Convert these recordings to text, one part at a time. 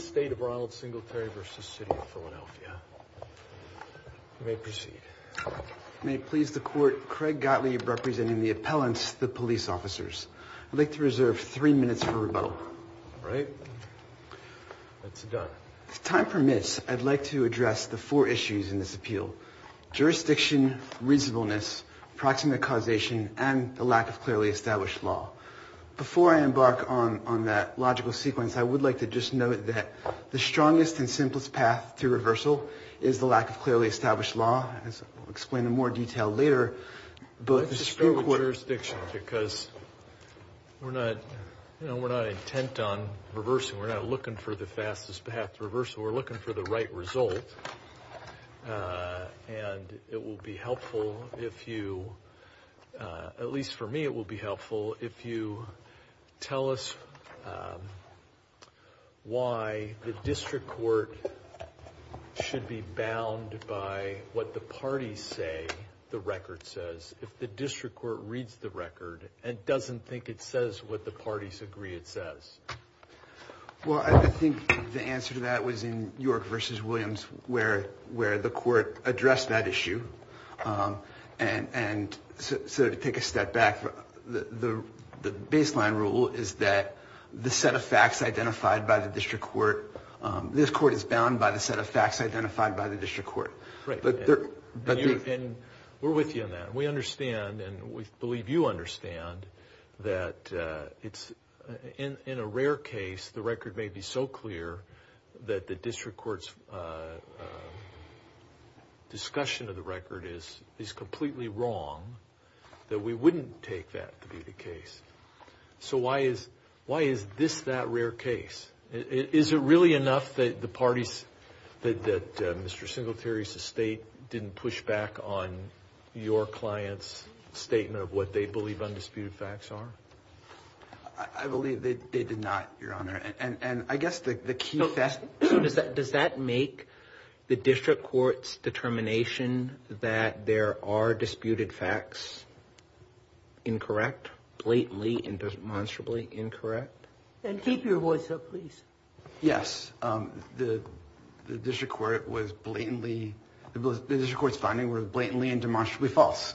State of Ronald Singletary v. City of Philadelphia. You may proceed. May it please the court, Craig Gottlieb representing the appellants, the police officers. I'd like to reserve three minutes for rebuttal. All right. That's a done. If time permits, I'd like to address the four issues in this appeal. Jurisdiction, reasonableness, proximate causation, and the lack of clearly established law. Before I embark on that logical sequence, I would like to just note that the strongest and simplest path to reversal is the lack of clearly established law. As I'll explain in more detail later, both the Supreme Court... Let's just go with jurisdiction because we're not, you know, we're not intent on reversing. We're not looking for the fastest path to reversal. We're looking for the right result. And it will be helpful if you, at least for me, it will be helpful if you tell us why the district court should be bound by what the parties say the record says. If the district court reads the record and doesn't think it says what the parties agree it says. Well, I think the answer to that was in York v. Williams where the court addressed that issue. And so to take a step back, the baseline rule is that the set of facts identified by the district court, this court is bound by the set of facts identified by the district court. And we're with you on that. We understand and we believe you understand that in a rare case the record may be so clear that the district court's discussion of the record is completely wrong that we wouldn't take that to be the case. So why is this that rare case? Is it really enough that the parties, that Mr. Singletary's estate didn't push back on your client's statement of what they believe undisputed facts are? I believe they did not, Your Honor. And I guess the key... So does that make the district court's determination that there are disputed facts incorrect, blatantly and demonstrably incorrect? And keep your voice up, please. Yes. The district court was blatantly, the district court's finding was blatantly and demonstrably false.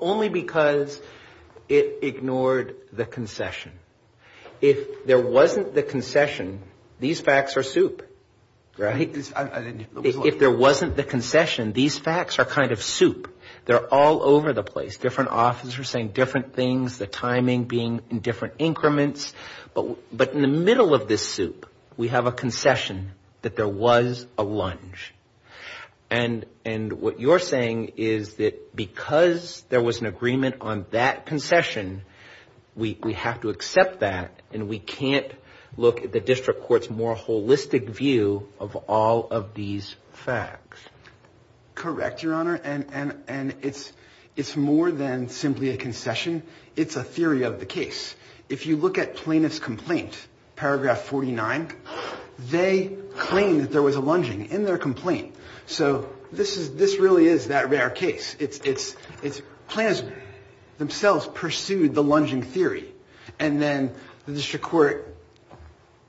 Only because it ignored the concession. If there wasn't the concession, these facts are soup, right? If there wasn't the concession, these facts are kind of soup. They're all over the place. Different officers saying different things, the timing being in different increments. But in the middle of this soup, we have a concession that there was a lunge. And what you're saying is that because there was an agreement on that concession, we have to accept that. And we can't look at the district court's more holistic view of all of these facts. Correct, Your Honor. And it's more than simply a concession. It's a theory of the case. If you look at plaintiff's complaint, paragraph 49, they claim that there was a lunging in their complaint. So this really is that rare case. Plaintiffs themselves pursued the lunging theory. And then the district court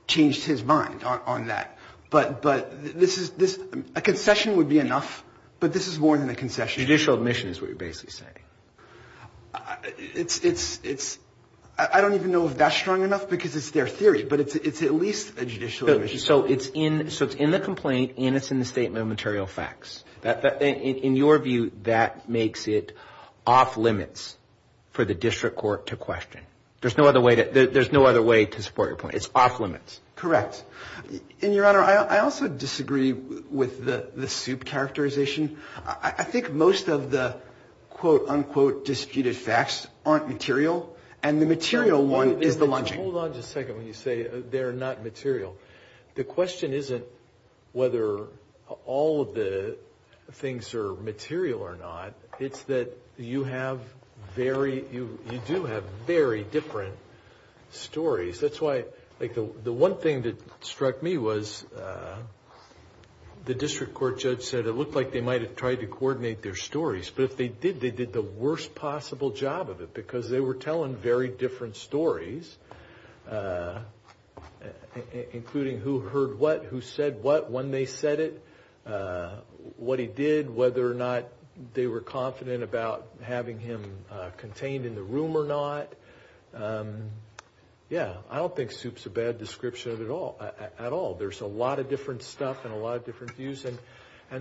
changed his mind on that. But a concession would be enough. But this is more than a concession. Judicial admission is what you're basically saying. I don't even know if that's strong enough because it's their theory. But it's at least a judicial admission. So it's in the complaint and it's in the statement of material facts. In your view, that makes it off limits for the district court to question. There's no other way to support your point. It's off limits. Correct. And, Your Honor, I also disagree with the soup characterization. I think most of the, quote, unquote, disputed facts aren't material. And the material one is the lunging. Hold on just a second when you say they're not material. The question isn't whether all of the things are material or not. It's that you do have very different stories. That's why the one thing that struck me was the district court judge said it looked like they might have tried to coordinate their stories. But if they did, they did the worst possible job of it because they were telling very different stories, including who heard what, who said what, when they said it, what he did, whether or not they were confident about having him contained in the room or not. Yeah, I don't think soup's a bad description at all. There's a lot of different stuff and a lot of different views. And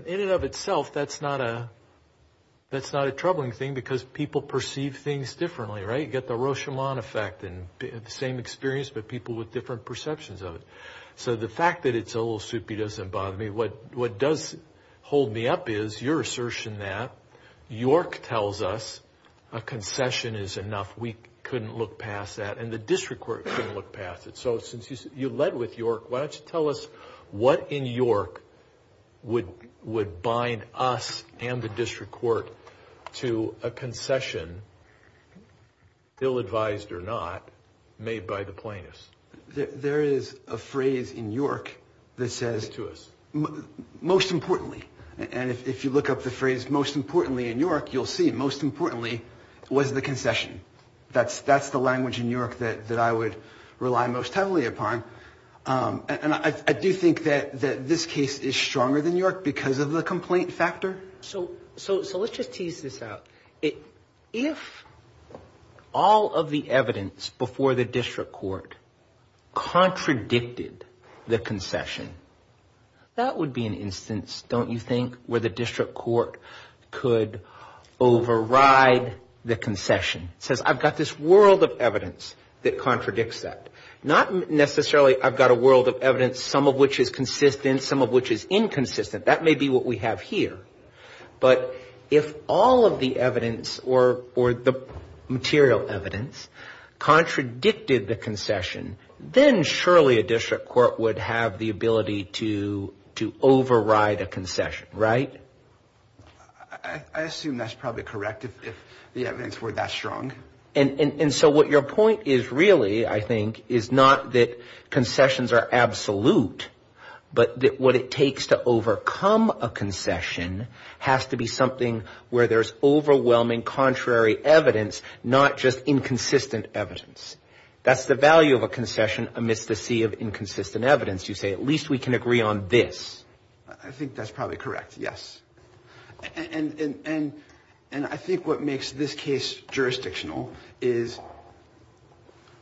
in and of itself, that's not a troubling thing because people perceive things differently, right? You get the Rochamont effect and the same experience, but people with different perceptions of it. So the fact that it's a little soupy doesn't bother me. What does hold me up is your assertion that York tells us a concession is enough. We couldn't look past that. And the district court couldn't look past it. So since you led with York, why don't you tell us what in York would bind us and the district court to a concession, ill-advised or not, made by the plaintiffs? There is a phrase in York that says most importantly, and if you look up the phrase most importantly in York, you'll see most importantly was the concession. That's the language in York that I would rely most heavily upon. And I do think that this case is stronger than York because of the complaint factor. So let's just tease this out. If all of the evidence before the district court contradicted the concession, that would be an instance, don't you think, where the district court could override the concession? It says I've got this world of evidence that contradicts that. Not necessarily I've got a world of evidence, some of which is consistent, some of which is inconsistent. That may be what we have here. But if all of the evidence or the material evidence contradicted the concession, then surely a district court would have the ability to override a concession, right? I assume that's probably correct if the evidence were that strong. And so what your point is really, I think, is not that concessions are absolute, but that what it takes to overcome a concession has to be something where there's overwhelming contrary evidence, not just inconsistent evidence. That's the value of a concession amidst a sea of inconsistent evidence. You say at least we can agree on this. I think that's probably correct, yes. And I think what makes this case jurisdictional is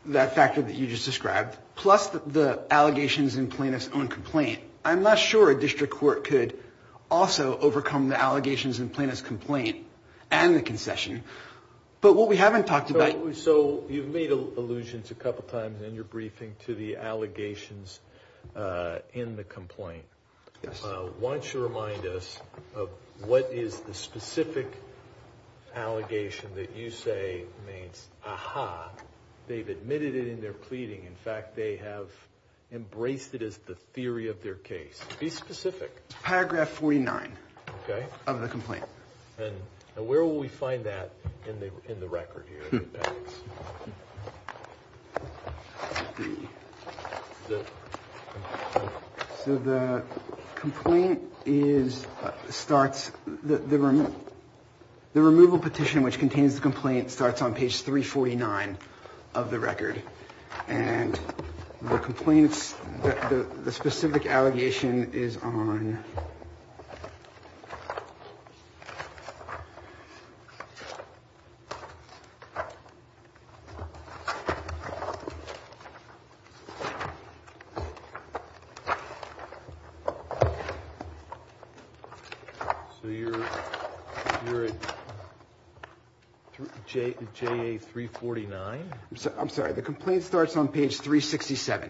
that factor that you just described, plus the allegations in Plaintiff's Own Complaint. I'm not sure a district court could also overcome the allegations in Plaintiff's Complaint and the concession. But what we haven't talked about— So you've made allusions a couple times in your briefing to the allegations in the complaint. Yes. Why don't you remind us of what is the specific allegation that you say means, aha, they've admitted it in their pleading. In fact, they have embraced it as the theory of their case. Be specific. Paragraph 49. Okay. Of the complaint. And where will we find that in the record here? So the complaint is—starts—the removal petition, which contains the complaint, starts on page 349 of the record. And the complaint's—the specific allegation is on— So you're at JA349? I'm sorry. The complaint starts on page 367.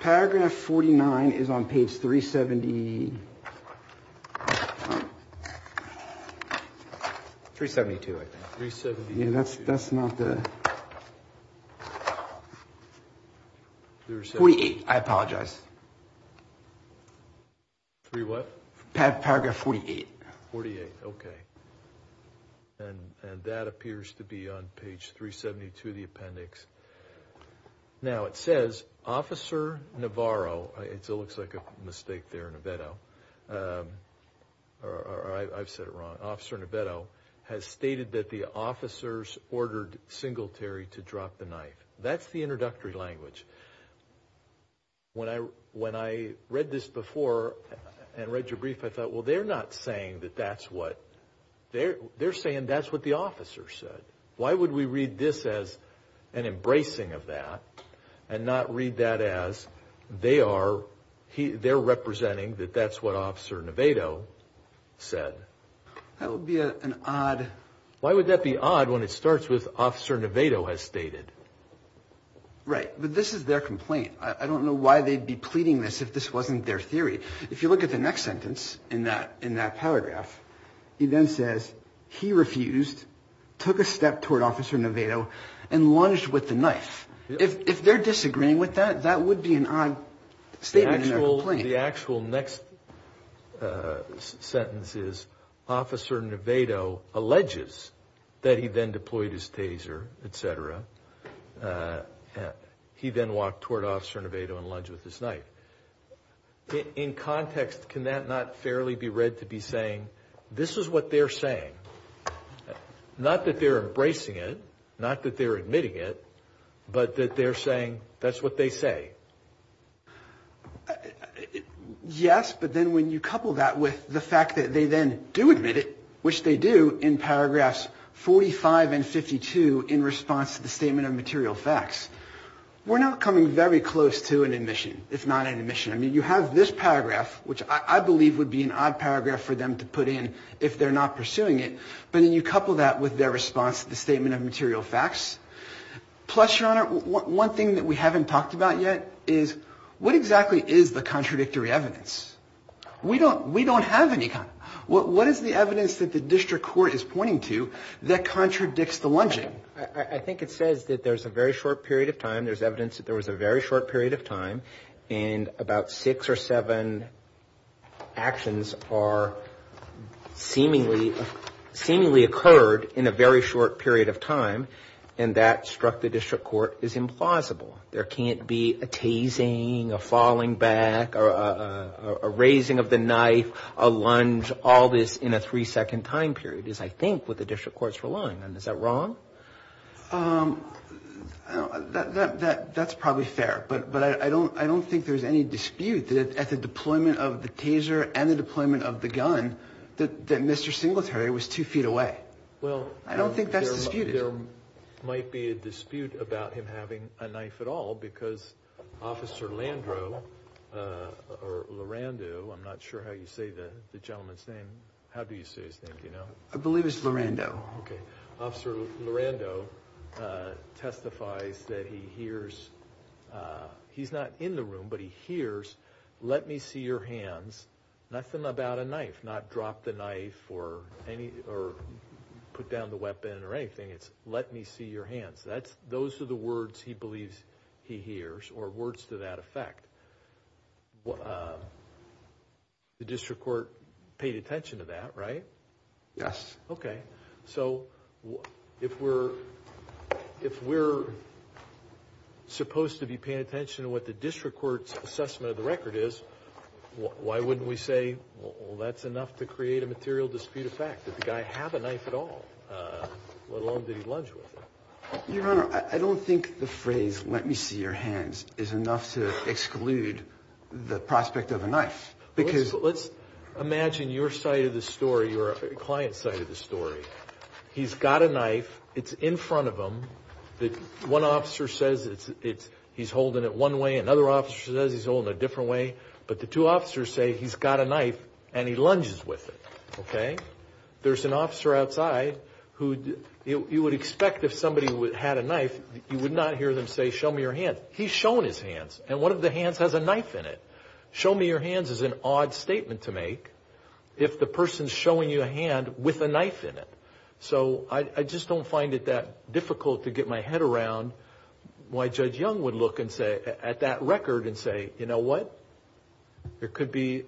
Paragraph 49 is on page 370— 372, I think. 372. Yeah, that's not the— There's— 48, I apologize. Three what? Paragraph 48. 48, okay. And that appears to be on page 372 of the appendix. Now, it says, Officer Navarro—it looks like a mistake there in Aveto, or I've said it wrong— Officer Navarro has stated that the officers ordered Singletary to drop the knife. That's the introductory language. When I read this before and read your brief, I thought, well, they're not saying that that's what—they're saying that's what the officer said. Why would we read this as an embracing of that and not read that as they are—they're representing that that's what Officer Navarro said? That would be an odd— Why would that be odd when it starts with, Officer Navarro has stated? Right, but this is their complaint. I don't know why they'd be pleading this if this wasn't their theory. If you look at the next sentence in that paragraph, it then says, he refused, took a step toward Officer Navarro, and lunged with the knife. If they're disagreeing with that, that would be an odd statement in their complaint. The actual next sentence is, Officer Aveto alleges that he then deployed his taser, etc. He then walked toward Officer Aveto and lunged with his knife. In context, can that not fairly be read to be saying, this is what they're saying? Not that they're embracing it, not that they're admitting it, but that they're saying that's what they say. Yes, but then when you couple that with the fact that they then do admit it, which they do in paragraphs 45 and 52 in response to the statement of material facts, we're not coming very close to an admission, if not an admission. I mean, you have this paragraph, which I believe would be an odd paragraph for them to put in if they're not pursuing it, but then you couple that with their response to the statement of material facts. Plus, Your Honor, one thing that we haven't talked about yet is, what exactly is the contradictory evidence? We don't have any. What is the evidence that the district court is pointing to that contradicts the lunging? I think it says that there's a very short period of time, there's evidence that there was a very short period of time, and about six or seven actions are seemingly occurred in a very short period of time, and that struck the district court as implausible. There can't be a tasing, a falling back, a raising of the knife, a lunge, all this in a three-second time period, as I think what the district court's relying on. Is that wrong? That's probably fair, but I don't think there's any dispute that at the deployment of the taser and the deployment of the gun that Mr. Singletary was two feet away. I don't think that's disputed. Well, there might be a dispute about him having a knife at all, because Officer Lando, I'm not sure how you say the gentleman's name. How do you say his name? Do you know? I believe it's Lando. Okay. Officer Lando testifies that he hears, he's not in the room, but he hears, let me see your hands, nothing about a knife, not drop the knife or put down the weapon or anything. It's let me see your hands. Those are the words he believes he hears or words to that effect. The district court paid attention to that, right? Yes. Okay. So if we're supposed to be paying attention to what the district court's assessment of the record is, why wouldn't we say, well, that's enough to create a material dispute of fact, that the guy have a knife at all, let alone did he lunge with it? Your Honor, I don't think the phrase let me see your hands is enough to exclude the prospect of a knife. Let's imagine your side of the story, your client's side of the story. He's got a knife. It's in front of him. One officer says he's holding it one way. Another officer says he's holding it a different way. But the two officers say he's got a knife and he lunges with it. Okay? There's an officer outside who you would expect if somebody had a knife, you would not hear them say, show me your hands. He's shown his hands, and one of the hands has a knife in it. Show me your hands is an odd statement to make if the person's showing you a hand with a knife in it. So I just don't find it that difficult to get my head around why Judge Young would look at that record and say, you know what? It could be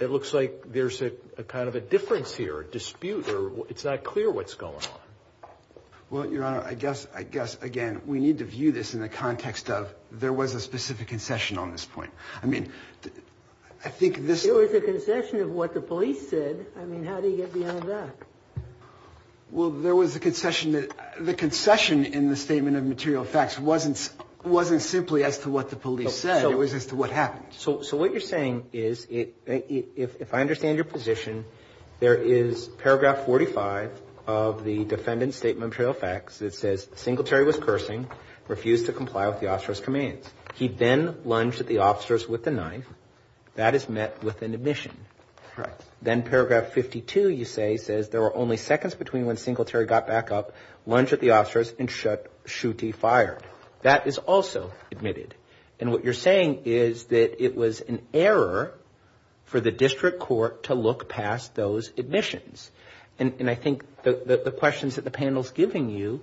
it looks like there's a kind of a difference here, a dispute, or it's not clear what's going on. Well, Your Honor, I guess, again, we need to view this in the context of there was a specific concession on this point. I mean, I think this was a concession of what the police said. I mean, how do you get beyond that? Well, there was a concession that the concession in the statement of material facts wasn't simply as to what the police said. It was as to what happened. So what you're saying is if I understand your position, there is paragraph 45 of the defendant's statement of material facts. It says Singletary was cursing, refused to comply with the officer's commands. He then lunged at the officers with the knife. That is met with an admission. Correct. Then paragraph 52, you say, says there were only seconds between when Singletary got back up, lunged at the officers, and shot Shutey fired. That is also admitted. And what you're saying is that it was an error for the district court to look past those admissions. And I think the questions that the panel's giving you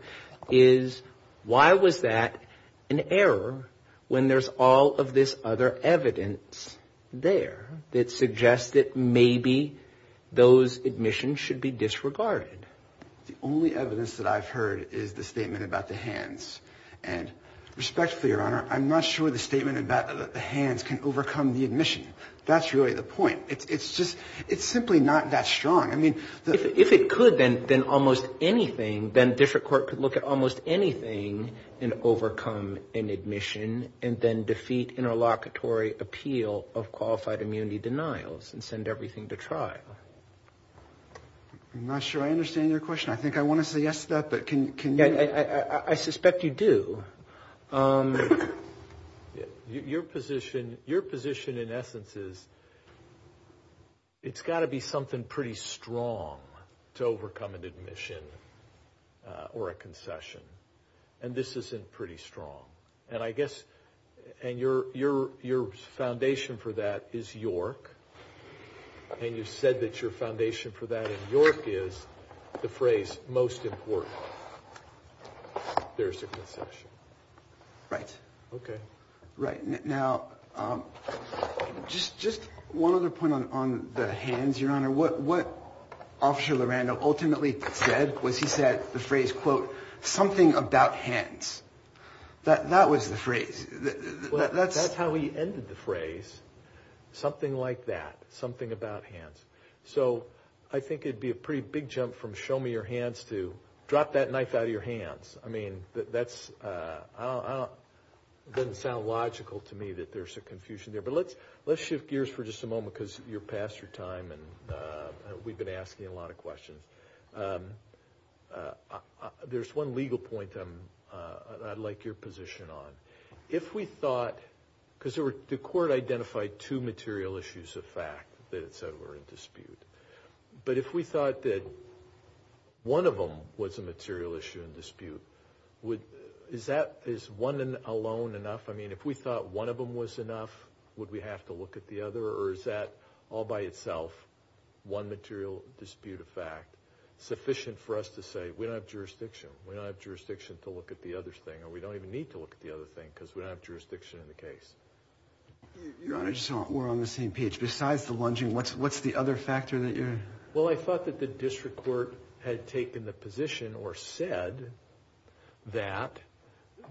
is why was that an error when there's all of this other evidence there that suggests that maybe those admissions should be disregarded? The only evidence that I've heard is the statement about the hands. And respectfully, Your Honor, I'm not sure the statement about the hands can overcome the admission. That's really the point. It's just it's simply not that strong. I mean, if it could, then almost anything, then district court could look at almost anything and overcome an admission and then defeat interlocutory appeal of qualified immunity denials and send everything to trial. I'm not sure I understand your question. I think I want to say yes to that. I suspect you do. Your position, in essence, is it's got to be something pretty strong to overcome an admission or a concession. And this isn't pretty strong. And your foundation for that is York. And you said that your foundation for that in York is the phrase most important. There's a concession. Right. OK. Right. Now, just one other point on the hands, Your Honor. What Officer Lorando ultimately said was he said the phrase, quote, something about hands. That was the phrase. That's how he ended the phrase. Something like that. Something about hands. So I think it'd be a pretty big jump from show me your hands to drop that knife out of your hands. I mean, that's doesn't sound logical to me that there's a confusion there. But let's shift gears for just a moment because you're past your time. And we've been asking a lot of questions. There's one legal point I'd like your position on. If we thought, because the court identified two material issues of fact that it said were in dispute. But if we thought that one of them was a material issue in dispute, is one alone enough? I mean, if we thought one of them was enough, would we have to look at the other? Or is that all by itself one material dispute of fact sufficient for us to say we don't have jurisdiction? We don't have jurisdiction to look at the other thing. Or we don't even need to look at the other thing because we don't have jurisdiction in the case. Your Honor, we're on the same page. Besides the lunging, what's the other factor that you're? Well, I thought that the district court had taken the position or said that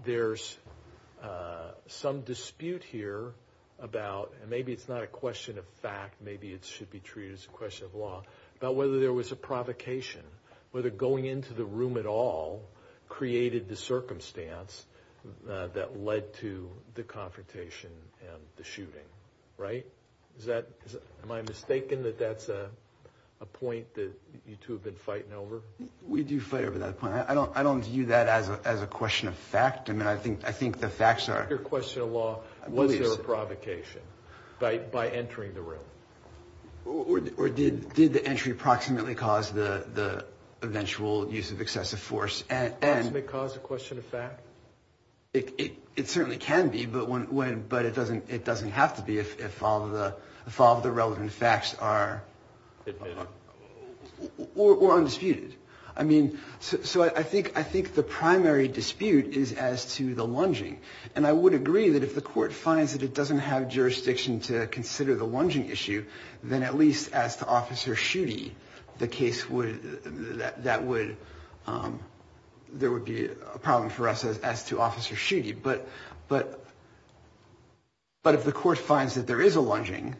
there's some dispute here about, and maybe it's not a question of fact, maybe it should be treated as a question of law, about whether there was a provocation. Whether going into the room at all created the circumstance that led to the confrontation and the shooting, right? Am I mistaken that that's a point that you two have been fighting over? We do fight over that point. I don't view that as a question of fact. I mean, I think the facts are. Your question of law, was there a provocation by entering the room? Or did the entry approximately cause the eventual use of excessive force? Approximately cause a question of fact? It certainly can be, but it doesn't have to be if all of the relevant facts are undisputed. I mean, so I think the primary dispute is as to the lunging. And I would agree that if the court finds that it doesn't have jurisdiction to consider the lunging issue, then at least as to Officer Schutte, the case would, that would, there would be a problem for us as to Officer Schutte. But if the court finds that there is a lunging,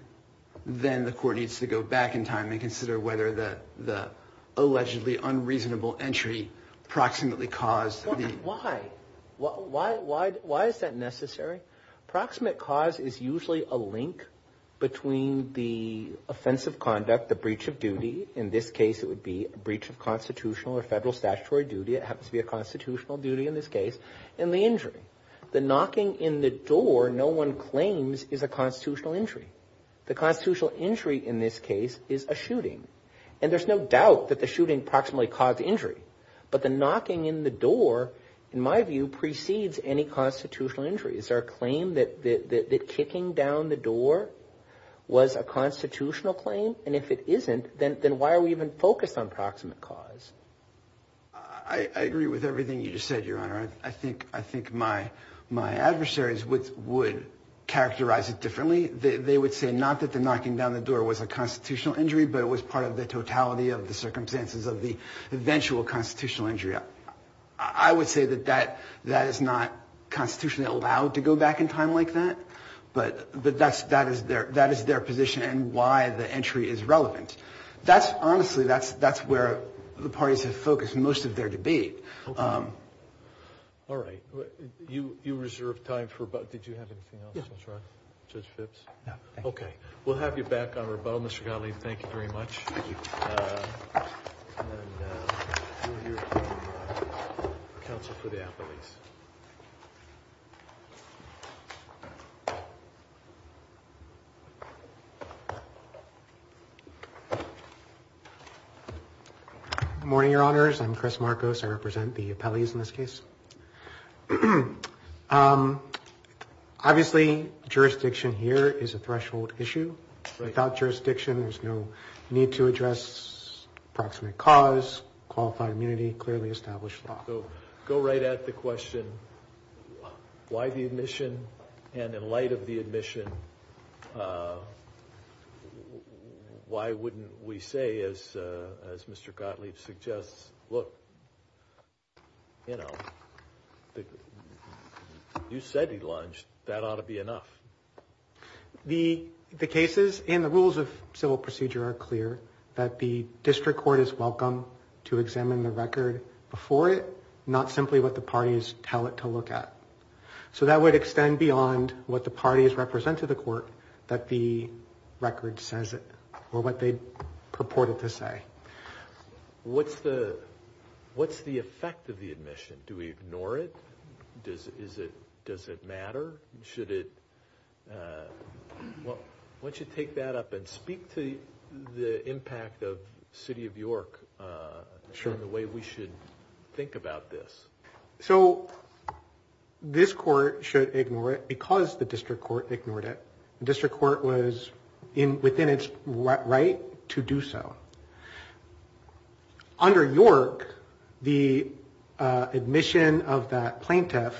then the court needs to go back in time and consider whether the allegedly unreasonable entry approximately caused the. Why? Why is that necessary? Approximate cause is usually a link between the offensive conduct, the breach of duty, in this case it would be a breach of constitutional or federal statutory duty, it happens to be a constitutional duty in this case, and the injury. The knocking in the door, no one claims, is a constitutional injury. The constitutional injury in this case is a shooting. And there's no doubt that the shooting approximately caused injury. But the knocking in the door, in my view, precedes any constitutional injury. Is there a claim that kicking down the door was a constitutional claim? And if it isn't, then why are we even focused on approximate cause? I agree with everything you just said, Your Honor. I think my adversaries would characterize it differently. They would say not that the knocking down the door was a constitutional injury, but it was part of the totality of the circumstances of the eventual constitutional injury. I would say that that is not constitutionally allowed to go back in time like that, but that is their position and why the entry is relevant. Honestly, that's where the parties have focused most of their debate. All right. You reserved time for rebuttal. Did you have anything else to add, Judge Phipps? No, thank you. Okay. We'll have you back on rebuttal, Mr. Gottlieb. Thank you very much. Thank you. And then we'll hear from counsel for the appellees. Good morning, Your Honors. I'm Chris Marcos. I represent the appellees in this case. Obviously, jurisdiction here is a threshold issue. Without jurisdiction, there's no need to address approximate cause, qualified immunity, clearly established law. Go right at the question, why the admission? And in light of the admission, why wouldn't we say, as Mr. Gottlieb suggests, look, you know, you said he lunged. That ought to be enough. The cases and the rules of civil procedure are clear that the district court is welcome to examine the record before it, not simply what the parties tell it to look at. So that would extend beyond what the parties represent to the court that the record says or what they purported to say. What's the effect of the admission? Do we ignore it? Does it matter? Why don't you take that up and speak to the impact of City of York and the way we should think about this. So this court should ignore it because the district court ignored it. The district court was within its right to do so. Under York, the admission of that plaintiff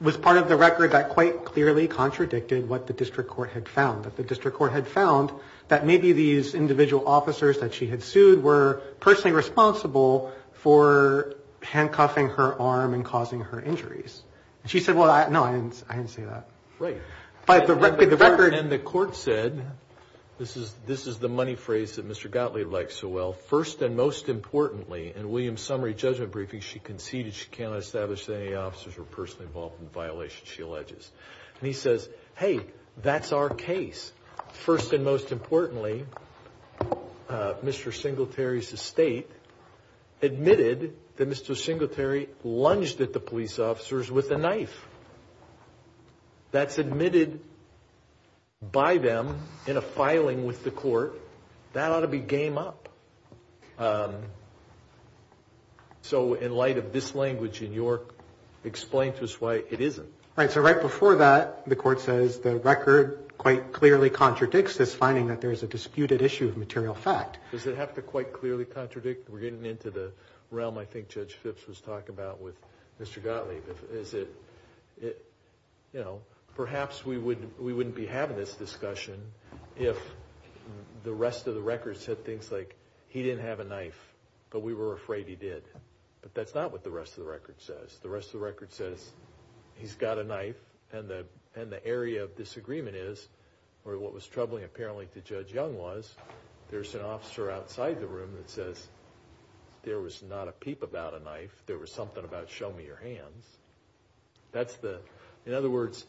was part of the record that quite clearly contradicted what the district court had found, that the district court had found that maybe these individual officers that she had sued were personally responsible for handcuffing her arm and causing her injuries. And she said, well, no, I didn't say that. Right. But the record in the court said, this is the money phrase that Mr. Gottlieb likes so well, first and most importantly, in William's summary judgment briefing, she conceded she cannot establish that any officers were personally involved in the violation she alleges. And he says, hey, that's our case. First and most importantly, Mr. Singletary's estate admitted that Mr. Singletary lunged at the police officers with a knife. That's admitted by them in a filing with the court. That ought to be game up. So in light of this language in York, explain to us why it isn't. Right. So right before that, the court says the record quite clearly contradicts this finding that there is a disputed issue of material fact. Does it have to quite clearly contradict? We're getting into the realm I think Judge Phipps was talking about with Mr. Gottlieb. Is it, you know, perhaps we wouldn't be having this discussion if the rest of the record said things like, he didn't have a knife, but we were afraid he did. But that's not what the rest of the record says. The rest of the record says, he's got a knife, and the area of disagreement is, or what was troubling apparently to Judge Young was, there's an officer outside the room that says, there was not a peep about a knife. There was something about, show me your hands. That's the, in other words,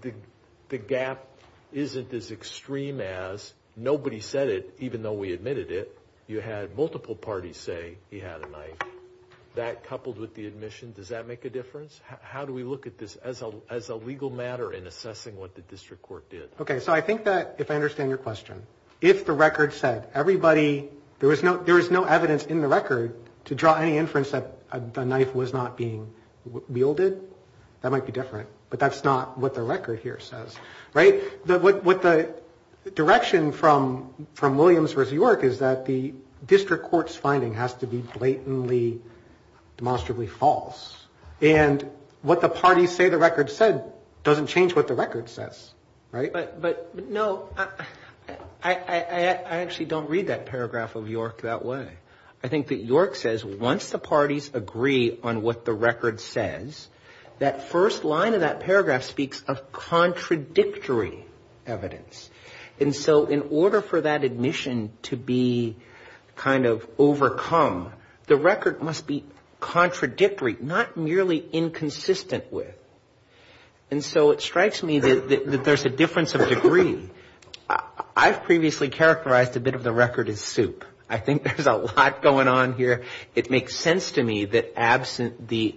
the gap isn't as extreme as, nobody said it even though we admitted it. You had multiple parties say he had a knife. That coupled with the admission, does that make a difference? How do we look at this as a legal matter in assessing what the district court did? Okay, so I think that, if I understand your question, if the record said everybody, there was no evidence in the record to draw any inference that the knife was not being wielded, that might be different. But that's not what the record here says. Right? What the direction from Williams versus York is that the district court's finding has to be blatantly, demonstrably false. And what the parties say the record said doesn't change what the record says. Right? But, no, I actually don't read that paragraph of York that way. I think that York says once the parties agree on what the record says, that first line of that paragraph speaks of contradictory evidence. And so in order for that admission to be kind of overcome, the record must be contradictory, not merely inconsistent with. And so it strikes me that there's a difference of degree. I've previously characterized a bit of the record as soup. I think there's a lot going on here. It makes sense to me that absent the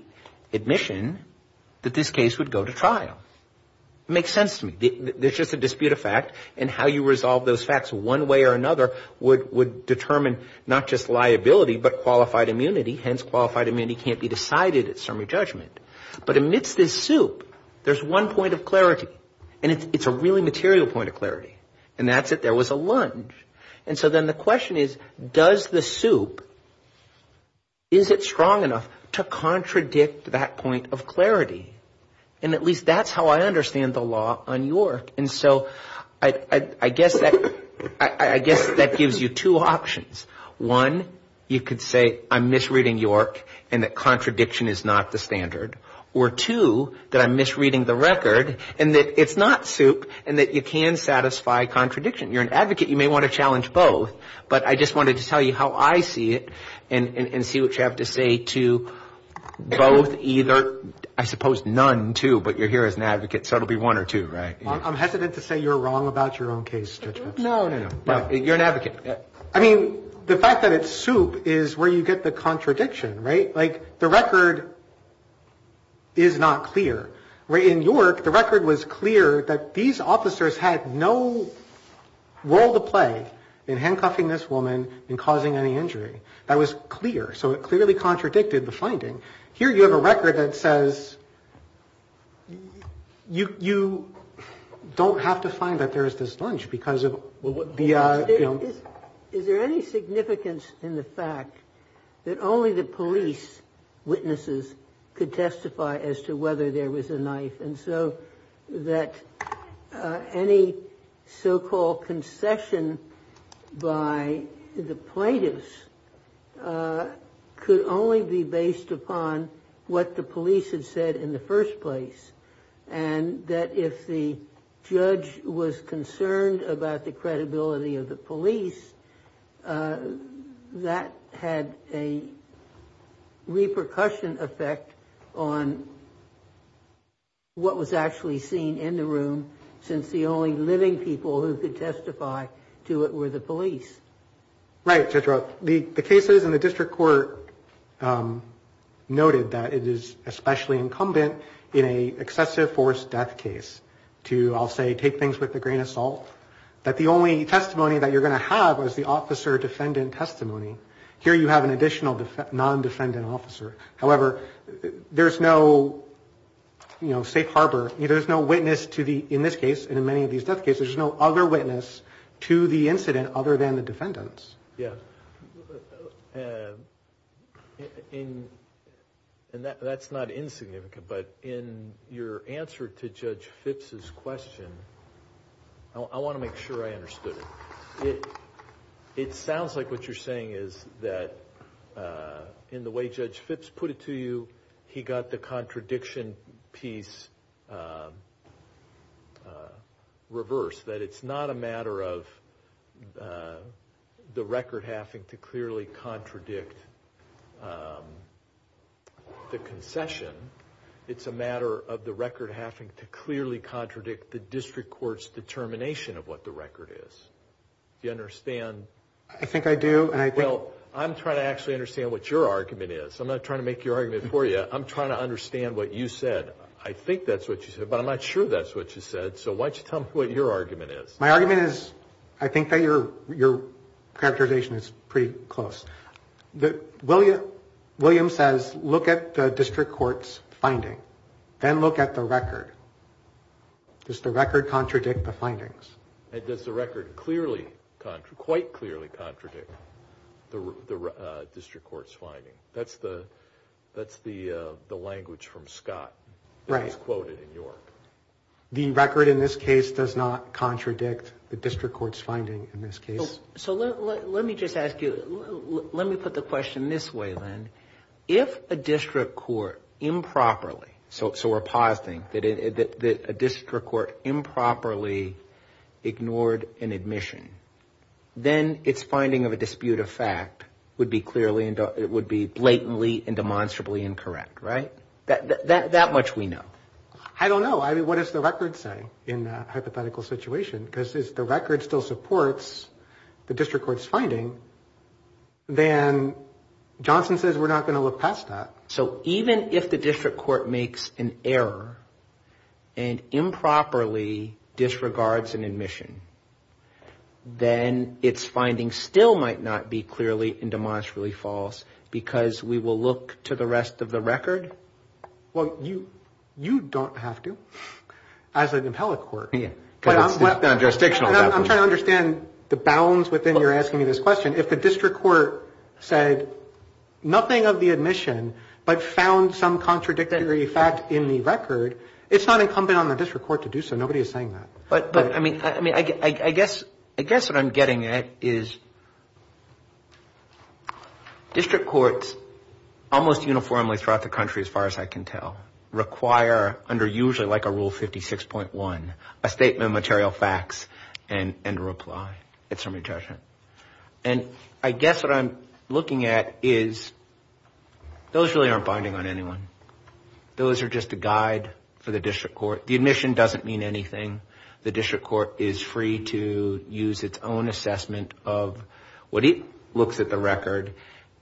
admission that this case would go to trial. It makes sense to me. There's just a dispute of fact, and how you resolve those facts one way or another would determine not just liability, but qualified immunity. Hence, qualified immunity can't be decided at summary judgment. But amidst this soup, there's one point of clarity. And it's a really material point of clarity. And that's that there was a lunge. And so then the question is, does the soup, is it strong enough to contradict that point of clarity? And at least that's how I understand the law on York. And so I guess that gives you two options. One, you could say I'm misreading York and that contradiction is not the standard. Or two, that I'm misreading the record and that it's not soup and that you can satisfy contradiction. You're an advocate. You may want to challenge both. But I just wanted to tell you how I see it and see what you have to say to both, either. I suppose none, too, but you're here as an advocate. So it will be one or two, right? I'm hesitant to say you're wrong about your own case. No, no, no. You're an advocate. I mean, the fact that it's soup is where you get the contradiction, right? Like the record is not clear. In York, the record was clear that these officers had no role to play in handcuffing this woman and causing any injury. That was clear. So it clearly contradicted the finding. Here you have a record that says you don't have to find that there is this lunch because of the, you know. That only the police witnesses could testify as to whether there was a knife. And so that any so-called concession by the plaintiffs could only be based upon what the police had said in the first place. And that if the judge was concerned about the credibility of the police, that had a repercussion effect on what was actually seen in the room since the only living people who could testify to it were the police. Right, Judge Roth. Well, the cases in the district court noted that it is especially incumbent in an excessive force death case to, I'll say, take things with a grain of salt, that the only testimony that you're going to have is the officer-defendant testimony. Here you have an additional non-defendant officer. However, there's no, you know, safe harbor. There's no witness to the, in this case and in many of these death cases, there's no other witness to the incident other than the defendants. Yeah. And that's not insignificant, but in your answer to Judge Phipps' question, I want to make sure I understood it. It sounds like what you're saying is that in the way Judge Phipps put it to you, he got the contradiction piece reversed, that it's not a matter of the record having to clearly contradict the concession. It's a matter of the record having to clearly contradict the district court's determination of what the record is. Do you understand? I think I do. Well, I'm trying to actually understand what your argument is. I'm not trying to make your argument for you. I'm trying to understand what you said. I think that's what you said, but I'm not sure that's what you said. So why don't you tell me what your argument is. My argument is, I think that your characterization is pretty close. William says, look at the district court's finding, then look at the record. Does the record contradict the findings? And does the record clearly, quite clearly contradict the district court's finding? That's the language from Scott that was quoted in York. The record in this case does not contradict the district court's finding in this case. So let me just ask you, let me put the question this way, then. If a district court improperly, so we're positing that a district court improperly ignored an admission, then its finding of a dispute of fact would be blatantly and demonstrably incorrect, right? That much we know. I don't know. I mean, what does the record say in a hypothetical situation? Because if the record still supports the district court's finding, then Johnson says we're not going to look past that. So even if the district court makes an error and improperly disregards an admission, then its finding still might not be clearly and demonstrably false because we will look to the rest of the record? Well, you don't have to as an appellate court. I'm trying to understand the bounds within your asking me this question. And if the district court said nothing of the admission but found some contradictory fact in the record, it's not incumbent on the district court to do so. Nobody is saying that. But, I mean, I guess what I'm getting at is district courts almost uniformly throughout the country as far as I can tell under usually like a Rule 56.1, a statement of material facts and a reply. It's from your judgment. And I guess what I'm looking at is those really aren't binding on anyone. Those are just a guide for the district court. The admission doesn't mean anything. The district court is free to use its own assessment of what it looks at the record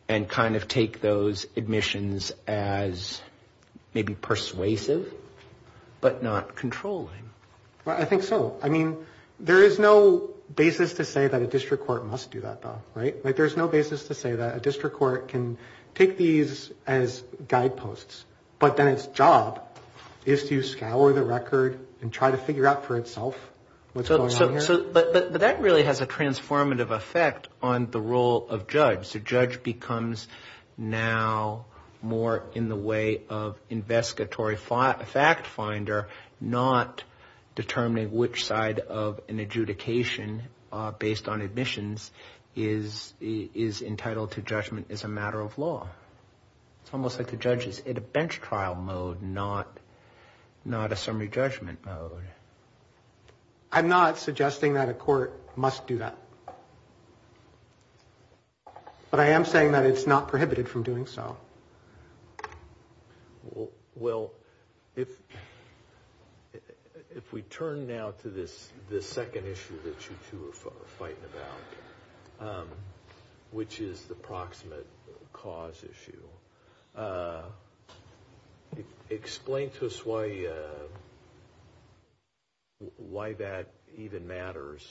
and kind of take those admissions as maybe persuasive but not controlling. Well, I think so. I mean, there is no basis to say that a district court must do that, though. Right? There's no basis to say that a district court can take these as guideposts, but then its job is to scour the record and try to figure out for itself what's going on here. But that really has a transformative effect on the role of judge. The judge becomes now more in the way of investigatory fact finder, not determining which side of an adjudication based on admissions is entitled to judgment as a matter of law. It's almost like the judge is in a bench trial mode, not a summary judgment mode. I'm not suggesting that a court must do that. But I am saying that it's not prohibited from doing so. Well, if we turn now to this second issue that you two are fighting about, which is the proximate cause issue, explain to us why that even matters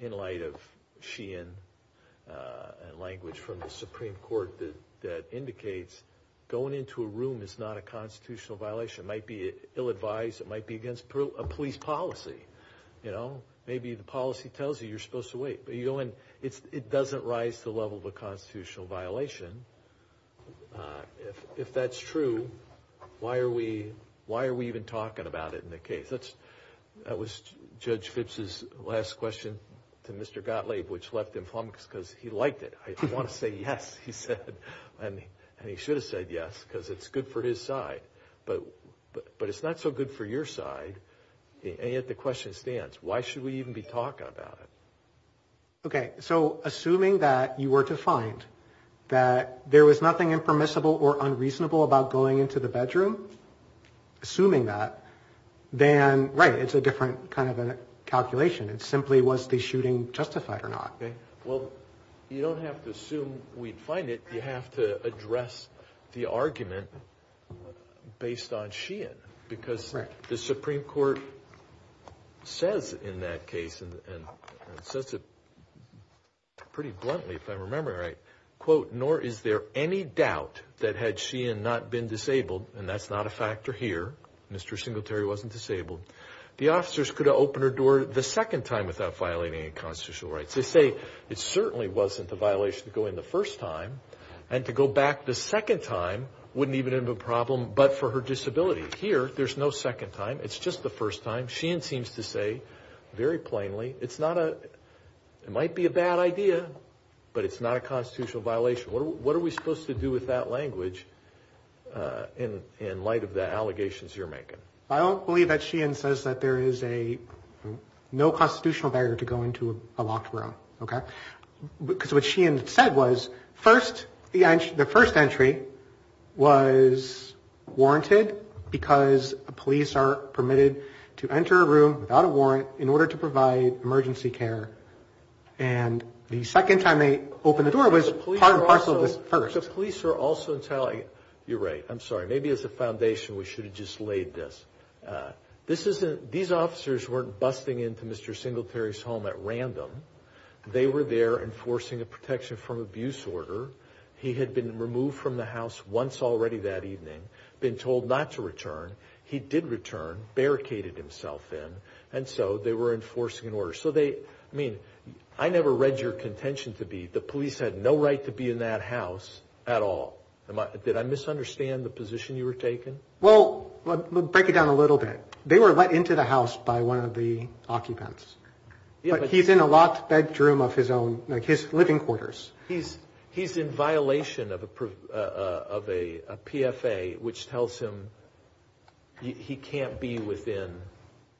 in light of Sheehan and language from the Supreme Court that indicates going into a room is not a constitutional violation. It might be ill-advised. It might be against a police policy. Maybe the policy tells you you're supposed to wait. It doesn't rise to the level of a constitutional violation. If that's true, why are we even talking about it in the case? That was Judge Phipps' last question to Mr. Gottlieb, which left him flummoxed because he liked it. I want to say yes, he said. And he should have said yes because it's good for his side. But it's not so good for your side. And yet the question stands. Why should we even be talking about it? Okay, so assuming that you were to find that there was nothing impermissible or unreasonable about going into the bedroom, assuming that, then, right, it's a different kind of a calculation. It simply was the shooting justified or not. Well, you don't have to assume we'd find it. You have to address the argument based on Sheehan. Because the Supreme Court says in that case, and says it pretty bluntly if I remember right, quote, nor is there any doubt that had Sheehan not been disabled, and that's not a factor here, Mr. Singletary wasn't disabled, the officers could have opened her door the second time without violating any constitutional rights. They say it certainly wasn't a violation to go in the first time. And to go back the second time wouldn't even have a problem but for her disability. Here, there's no second time. It's just the first time. Sheehan seems to say, very plainly, it's not a, it might be a bad idea, but it's not a constitutional violation. What are we supposed to do with that language in light of the allegations you're making? I don't believe that Sheehan says that there is a, no constitutional barrier to go into a locked room. Okay? Because what Sheehan said was, first, the first entry was warranted because police are permitted to enter a room without a warrant in order to provide emergency care. And the second time they opened the door was part and parcel of the first. You're right. I'm sorry. Maybe as a foundation we should have just laid this. This isn't, these officers weren't busting into Mr. Singletary's home at random. They were there enforcing a protection from abuse order. He had been removed from the house once already that evening, been told not to return. He did return, barricaded himself in, and so they were enforcing an order. So they, I mean, I never read your contention to be, the police had no right to be in that house at all. Did I misunderstand the position you were taking? Well, break it down a little bit. They were let into the house by one of the occupants. But he's in a locked bedroom of his own, like his living quarters. He's in violation of a PFA, which tells him he can't be within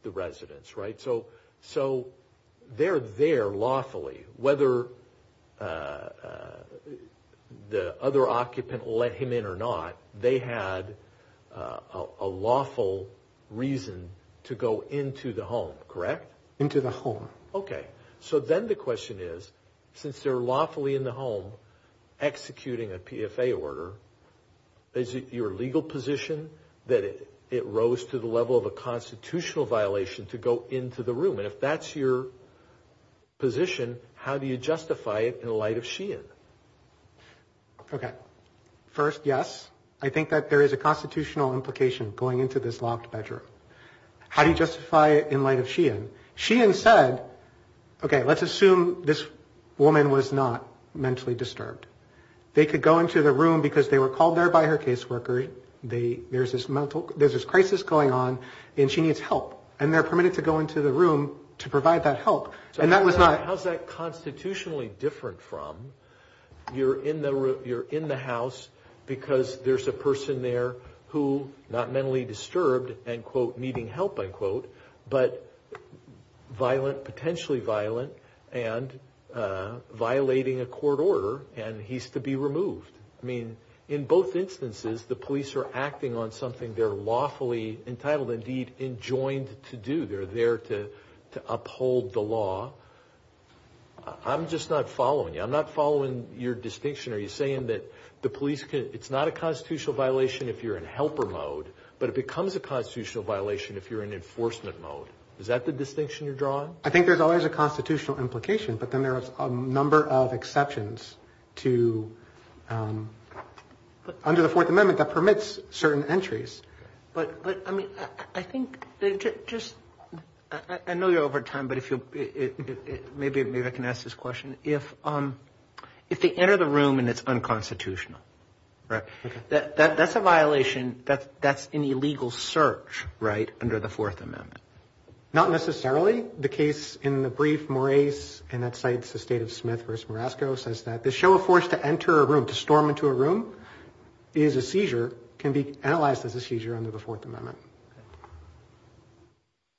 the residence, right? So they're there lawfully, whether the other occupant let him in or not, they had a lawful reason to go into the home, correct? Into the home. Okay. So then the question is, since they're lawfully in the home executing a PFA order, is it your legal position that it rose to the level of a constitutional violation to go into the room? And if that's your position, how do you justify it in light of Sheehan? Okay. First, yes, I think that there is a constitutional implication going into this locked bedroom. How do you justify it in light of Sheehan? Sheehan said, okay, let's assume this woman was not mentally disturbed. They could go into the room because they were called there by her caseworker. There's this crisis going on, and she needs help. And they're permitted to go into the room to provide that help. How's that constitutionally different from you're in the house because there's a person there who's not mentally disturbed and, quote, needing help, unquote, but potentially violent and violating a court order, and he's to be removed. I mean, in both instances, the police are acting on something they're lawfully entitled, indeed, enjoined to do. They're there to uphold the law. I'm just not following you. I'm not following your distinction. Are you saying that the police can – it's not a constitutional violation if you're in helper mode, but it becomes a constitutional violation if you're in enforcement mode. Is that the distinction you're drawing? I think there's always a constitutional implication, but then there are a number of exceptions to – under the Fourth Amendment that permits certain entries. But, I mean, I think just – I know you're over time, but if you'll – maybe I can ask this question. If they enter the room and it's unconstitutional, right, that's a violation. That's an illegal search, right, under the Fourth Amendment. Not necessarily. The case in the brief, Moraes, and that cites the state of Smith v. Morasco, says that the show of force to enter a room, to storm into a room, is a seizure, can be analyzed as a seizure under the Fourth Amendment.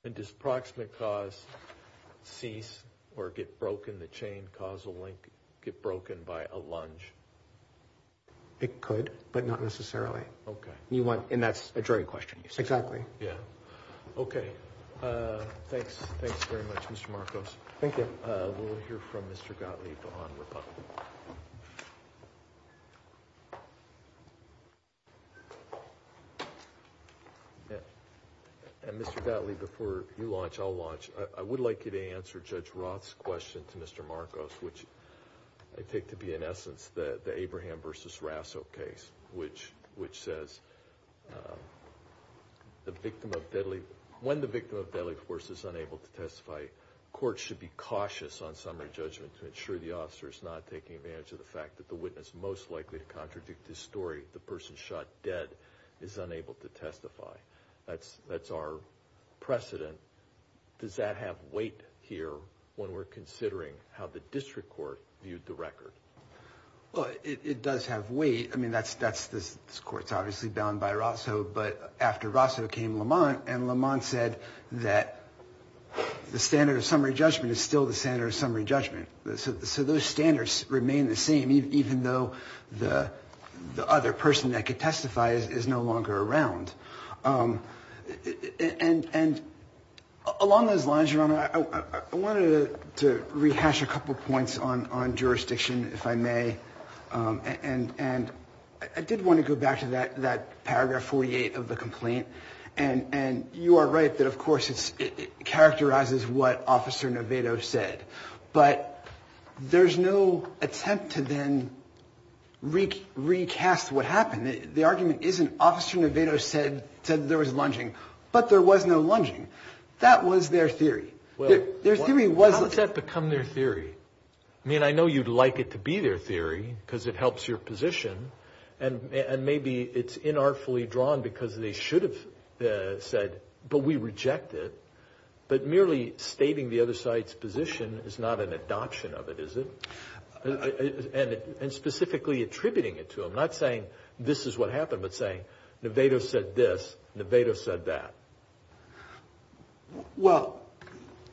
And does proximate cause cease or get broken, the chain, causal link, get broken by a lunge? It could, but not necessarily. Okay. You want – and that's a jury question. Exactly. Yeah. Okay. Thanks. Thanks very much, Mr. Marcos. Thank you. We'll hear from Mr. Gottlieb on Republican. And, Mr. Gottlieb, before you launch, I'll launch. I would like you to answer Judge Roth's question to Mr. Marcos, which I take to be, in essence, the Abraham v. Rasso case, which says the victim of deadly – when the victim of deadly force is unable to testify, courts should be cautious on summary judgment to ensure the officer is not taking advantage of the fact that the witness most likely to contradict his story, the person shot dead, is unable to testify. That's our precedent. Does that have weight here when we're considering how the district court viewed the record? Well, it does have weight. I mean, that's – this court's obviously bound by Rasso, but after Rasso came Lamont, and Lamont said that the standard of summary judgment is still the standard of summary judgment. So those standards remain the same, even though the other person that could testify is no longer around. And along those lines, Your Honor, I wanted to rehash a couple points on jurisdiction, if I may. And I did want to go back to that paragraph 48 of the complaint. And you are right that, of course, it characterizes what Officer Novato said. But there's no attempt to then recast what happened. The argument isn't Officer Novato said there was lunging, but there was no lunging. That was their theory. How does that become their theory? I mean, I know you'd like it to be their theory because it helps your position, and maybe it's inartfully drawn because they should have said, but we reject it. But merely stating the other side's position is not an adoption of it, is it? And specifically attributing it to them, not saying this is what happened, but saying Novato said this, Novato said that. Well,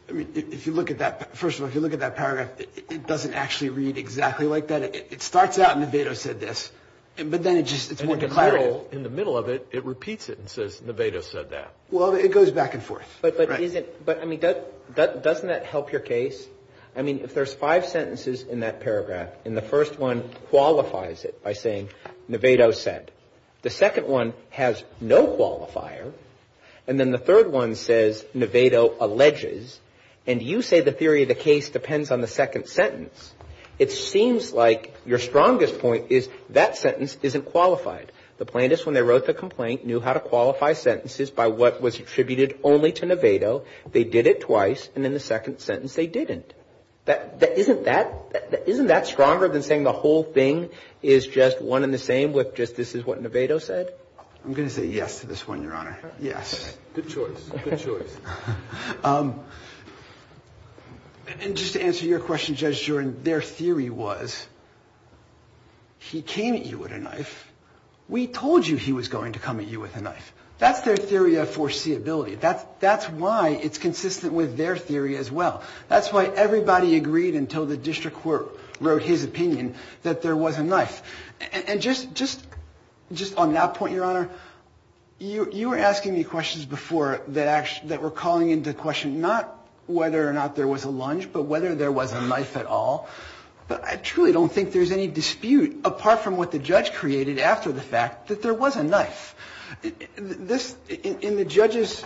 I mean, if you look at that, first of all, if you look at that paragraph, it doesn't actually read exactly like that. It starts out, Novato said this, but then it just, it's more declarative. In the middle of it, it repeats it and says, Novato said that. Well, it goes back and forth. But, I mean, doesn't that help your case? I mean, if there's five sentences in that paragraph, and the first one qualifies it by saying, Novato said, the second one has no qualifier, and then the third one says, Novato alleges, and you say the theory of the case depends on the second sentence, it seems like your strongest point is that sentence isn't qualified. The plaintiffs, when they wrote the complaint, knew how to qualify sentences by what was attributed only to Novato. They did it twice, and in the second sentence they didn't. Isn't that stronger than saying the whole thing is just one and the same with just this is what Novato said? I'm going to say yes to this one, Your Honor. Yes. Good choice. Good choice. And just to answer your question, Judge Jordan, their theory was he came at you with a knife. We told you he was going to come at you with a knife. That's their theory of foreseeability. That's why it's consistent with their theory as well. That's why everybody agreed until the district court wrote his opinion that there was a knife. And just on that point, Your Honor, you were asking me questions before that were calling into question not whether or not there was a lunge, but whether there was a knife at all. But I truly don't think there's any dispute apart from what the judge created after the fact that there was a knife. In the judge's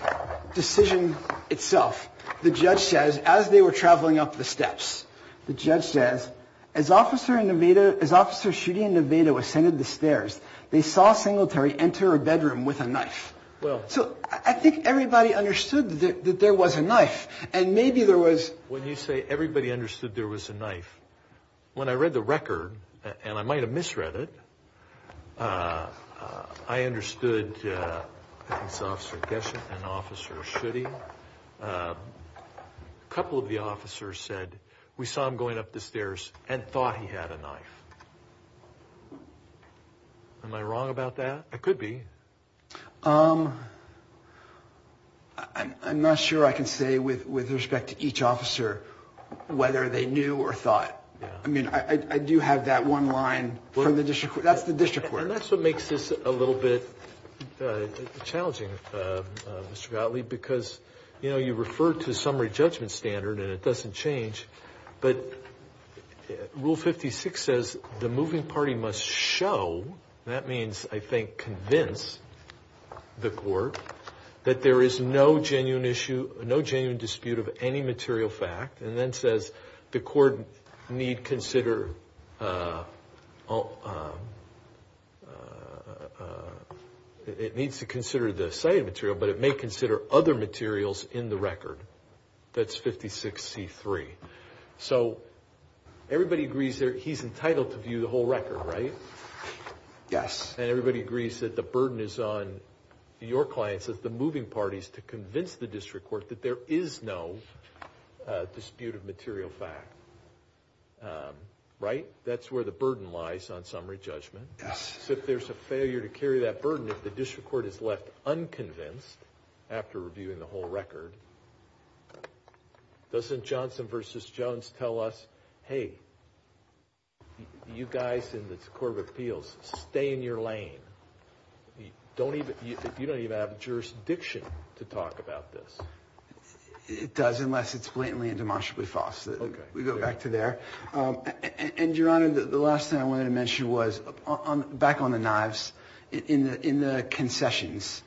decision itself, the judge says, as they were traveling up the steps, the judge says, as Officer Schutte and Novato ascended the stairs, they saw Singletary enter a bedroom with a knife. So I think everybody understood that there was a knife, and maybe there was. When you say everybody understood there was a knife, when I read the record, and I might have misread it, I understood that it was Officer Gesson and Officer Schutte. A couple of the officers said, we saw him going up the stairs and thought he had a knife. Am I wrong about that? I could be. I'm not sure I can say with respect to each officer whether they knew or thought. I mean, I do have that one line from the district court. That's the district court. And that's what makes this a little bit challenging, Mr. Gottlieb, because, you know, you refer to summary judgment standard, and it doesn't change, but Rule 56 says the moving party must show, that means, I think, convince the court, that there is no genuine issue, no genuine dispute of any material fact, and then says the court needs to consider the cited material, but it may consider other materials in the record. That's 56C3. So everybody agrees he's entitled to view the whole record, right? Yes. And everybody agrees that the burden is on your clients, the moving parties, to convince the district court that there is no dispute of material fact, right? That's where the burden lies on summary judgment. Yes. So if there's a failure to carry that burden, if the district court is left unconvinced after reviewing the whole record, doesn't Johnson v. Jones tell us, hey, you guys in the Court of Appeals, stay in your lane. You don't even have a jurisdiction to talk about this. It does, unless it's blatantly and demonstrably false. Okay. We go back to there. And, Your Honor, the last thing I wanted to mention was, back on the knives, in the concessions,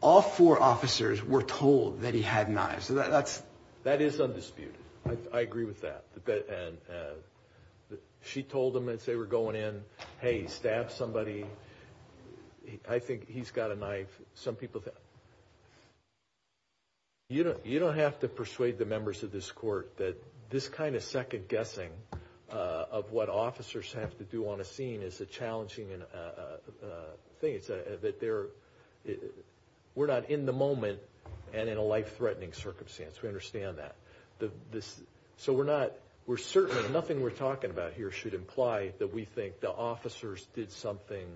all four officers were told that he had knives. That is undisputed. I agree with that. She told them as they were going in, hey, stab somebody. I think he's got a knife. Some people have. You don't have to persuade the members of this court that this kind of second-guessing of what officers have to do on a scene is a challenging thing. We're not in the moment and in a life-threatening circumstance. We understand that. Nothing we're talking about here should imply that we think the officers did something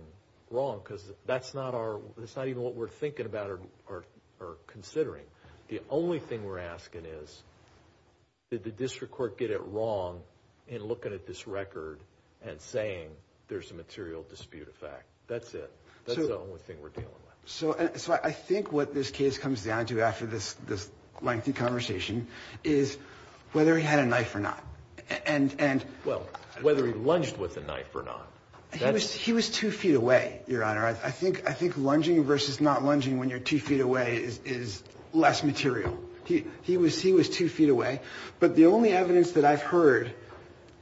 wrong, because that's not even what we're thinking about or considering. The only thing we're asking is, did the district court get it wrong in looking at this record and saying there's a material dispute of fact? That's it. That's the only thing we're dealing with. So I think what this case comes down to after this lengthy conversation is whether he had a knife or not. Well, whether he lunged with a knife or not. He was two feet away, Your Honor. I think lunging versus not lunging when you're two feet away is less material. He was two feet away. But the only evidence that I've heard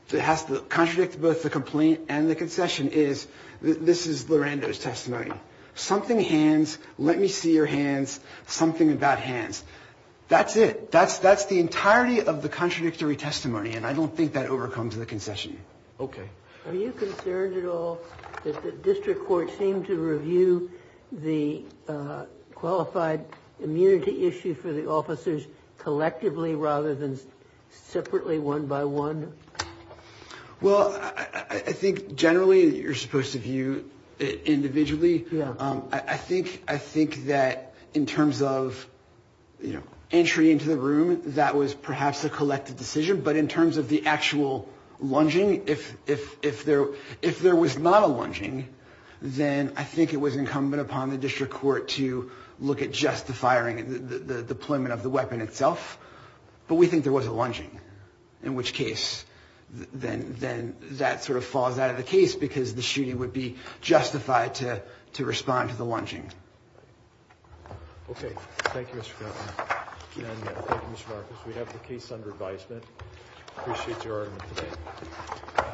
that has to contradict both the complaint and the concession is, this is Lorando's testimony, something hands, let me see your hands, something about hands. That's it. That's the entirety of the contradictory testimony, and I don't think that overcomes the concession. Okay. Are you concerned at all that the district court seemed to review the qualified immunity issue for the officers collectively rather than separately, one by one? Well, I think generally you're supposed to view it individually. I think that in terms of entry into the room, that was perhaps a collective decision. But in terms of the actual lunging, if there was not a lunging, then I think it was incumbent upon the district court to look at just the firing, the deployment of the weapon itself. But we think there was a lunging, in which case then that sort of falls out of the case because the shooting would be justified to respond to the lunging. Okay. Thank you, Mr. Cuffman. And thank you, Mr. Marcus. We have the case under advisement. Appreciate your argument today.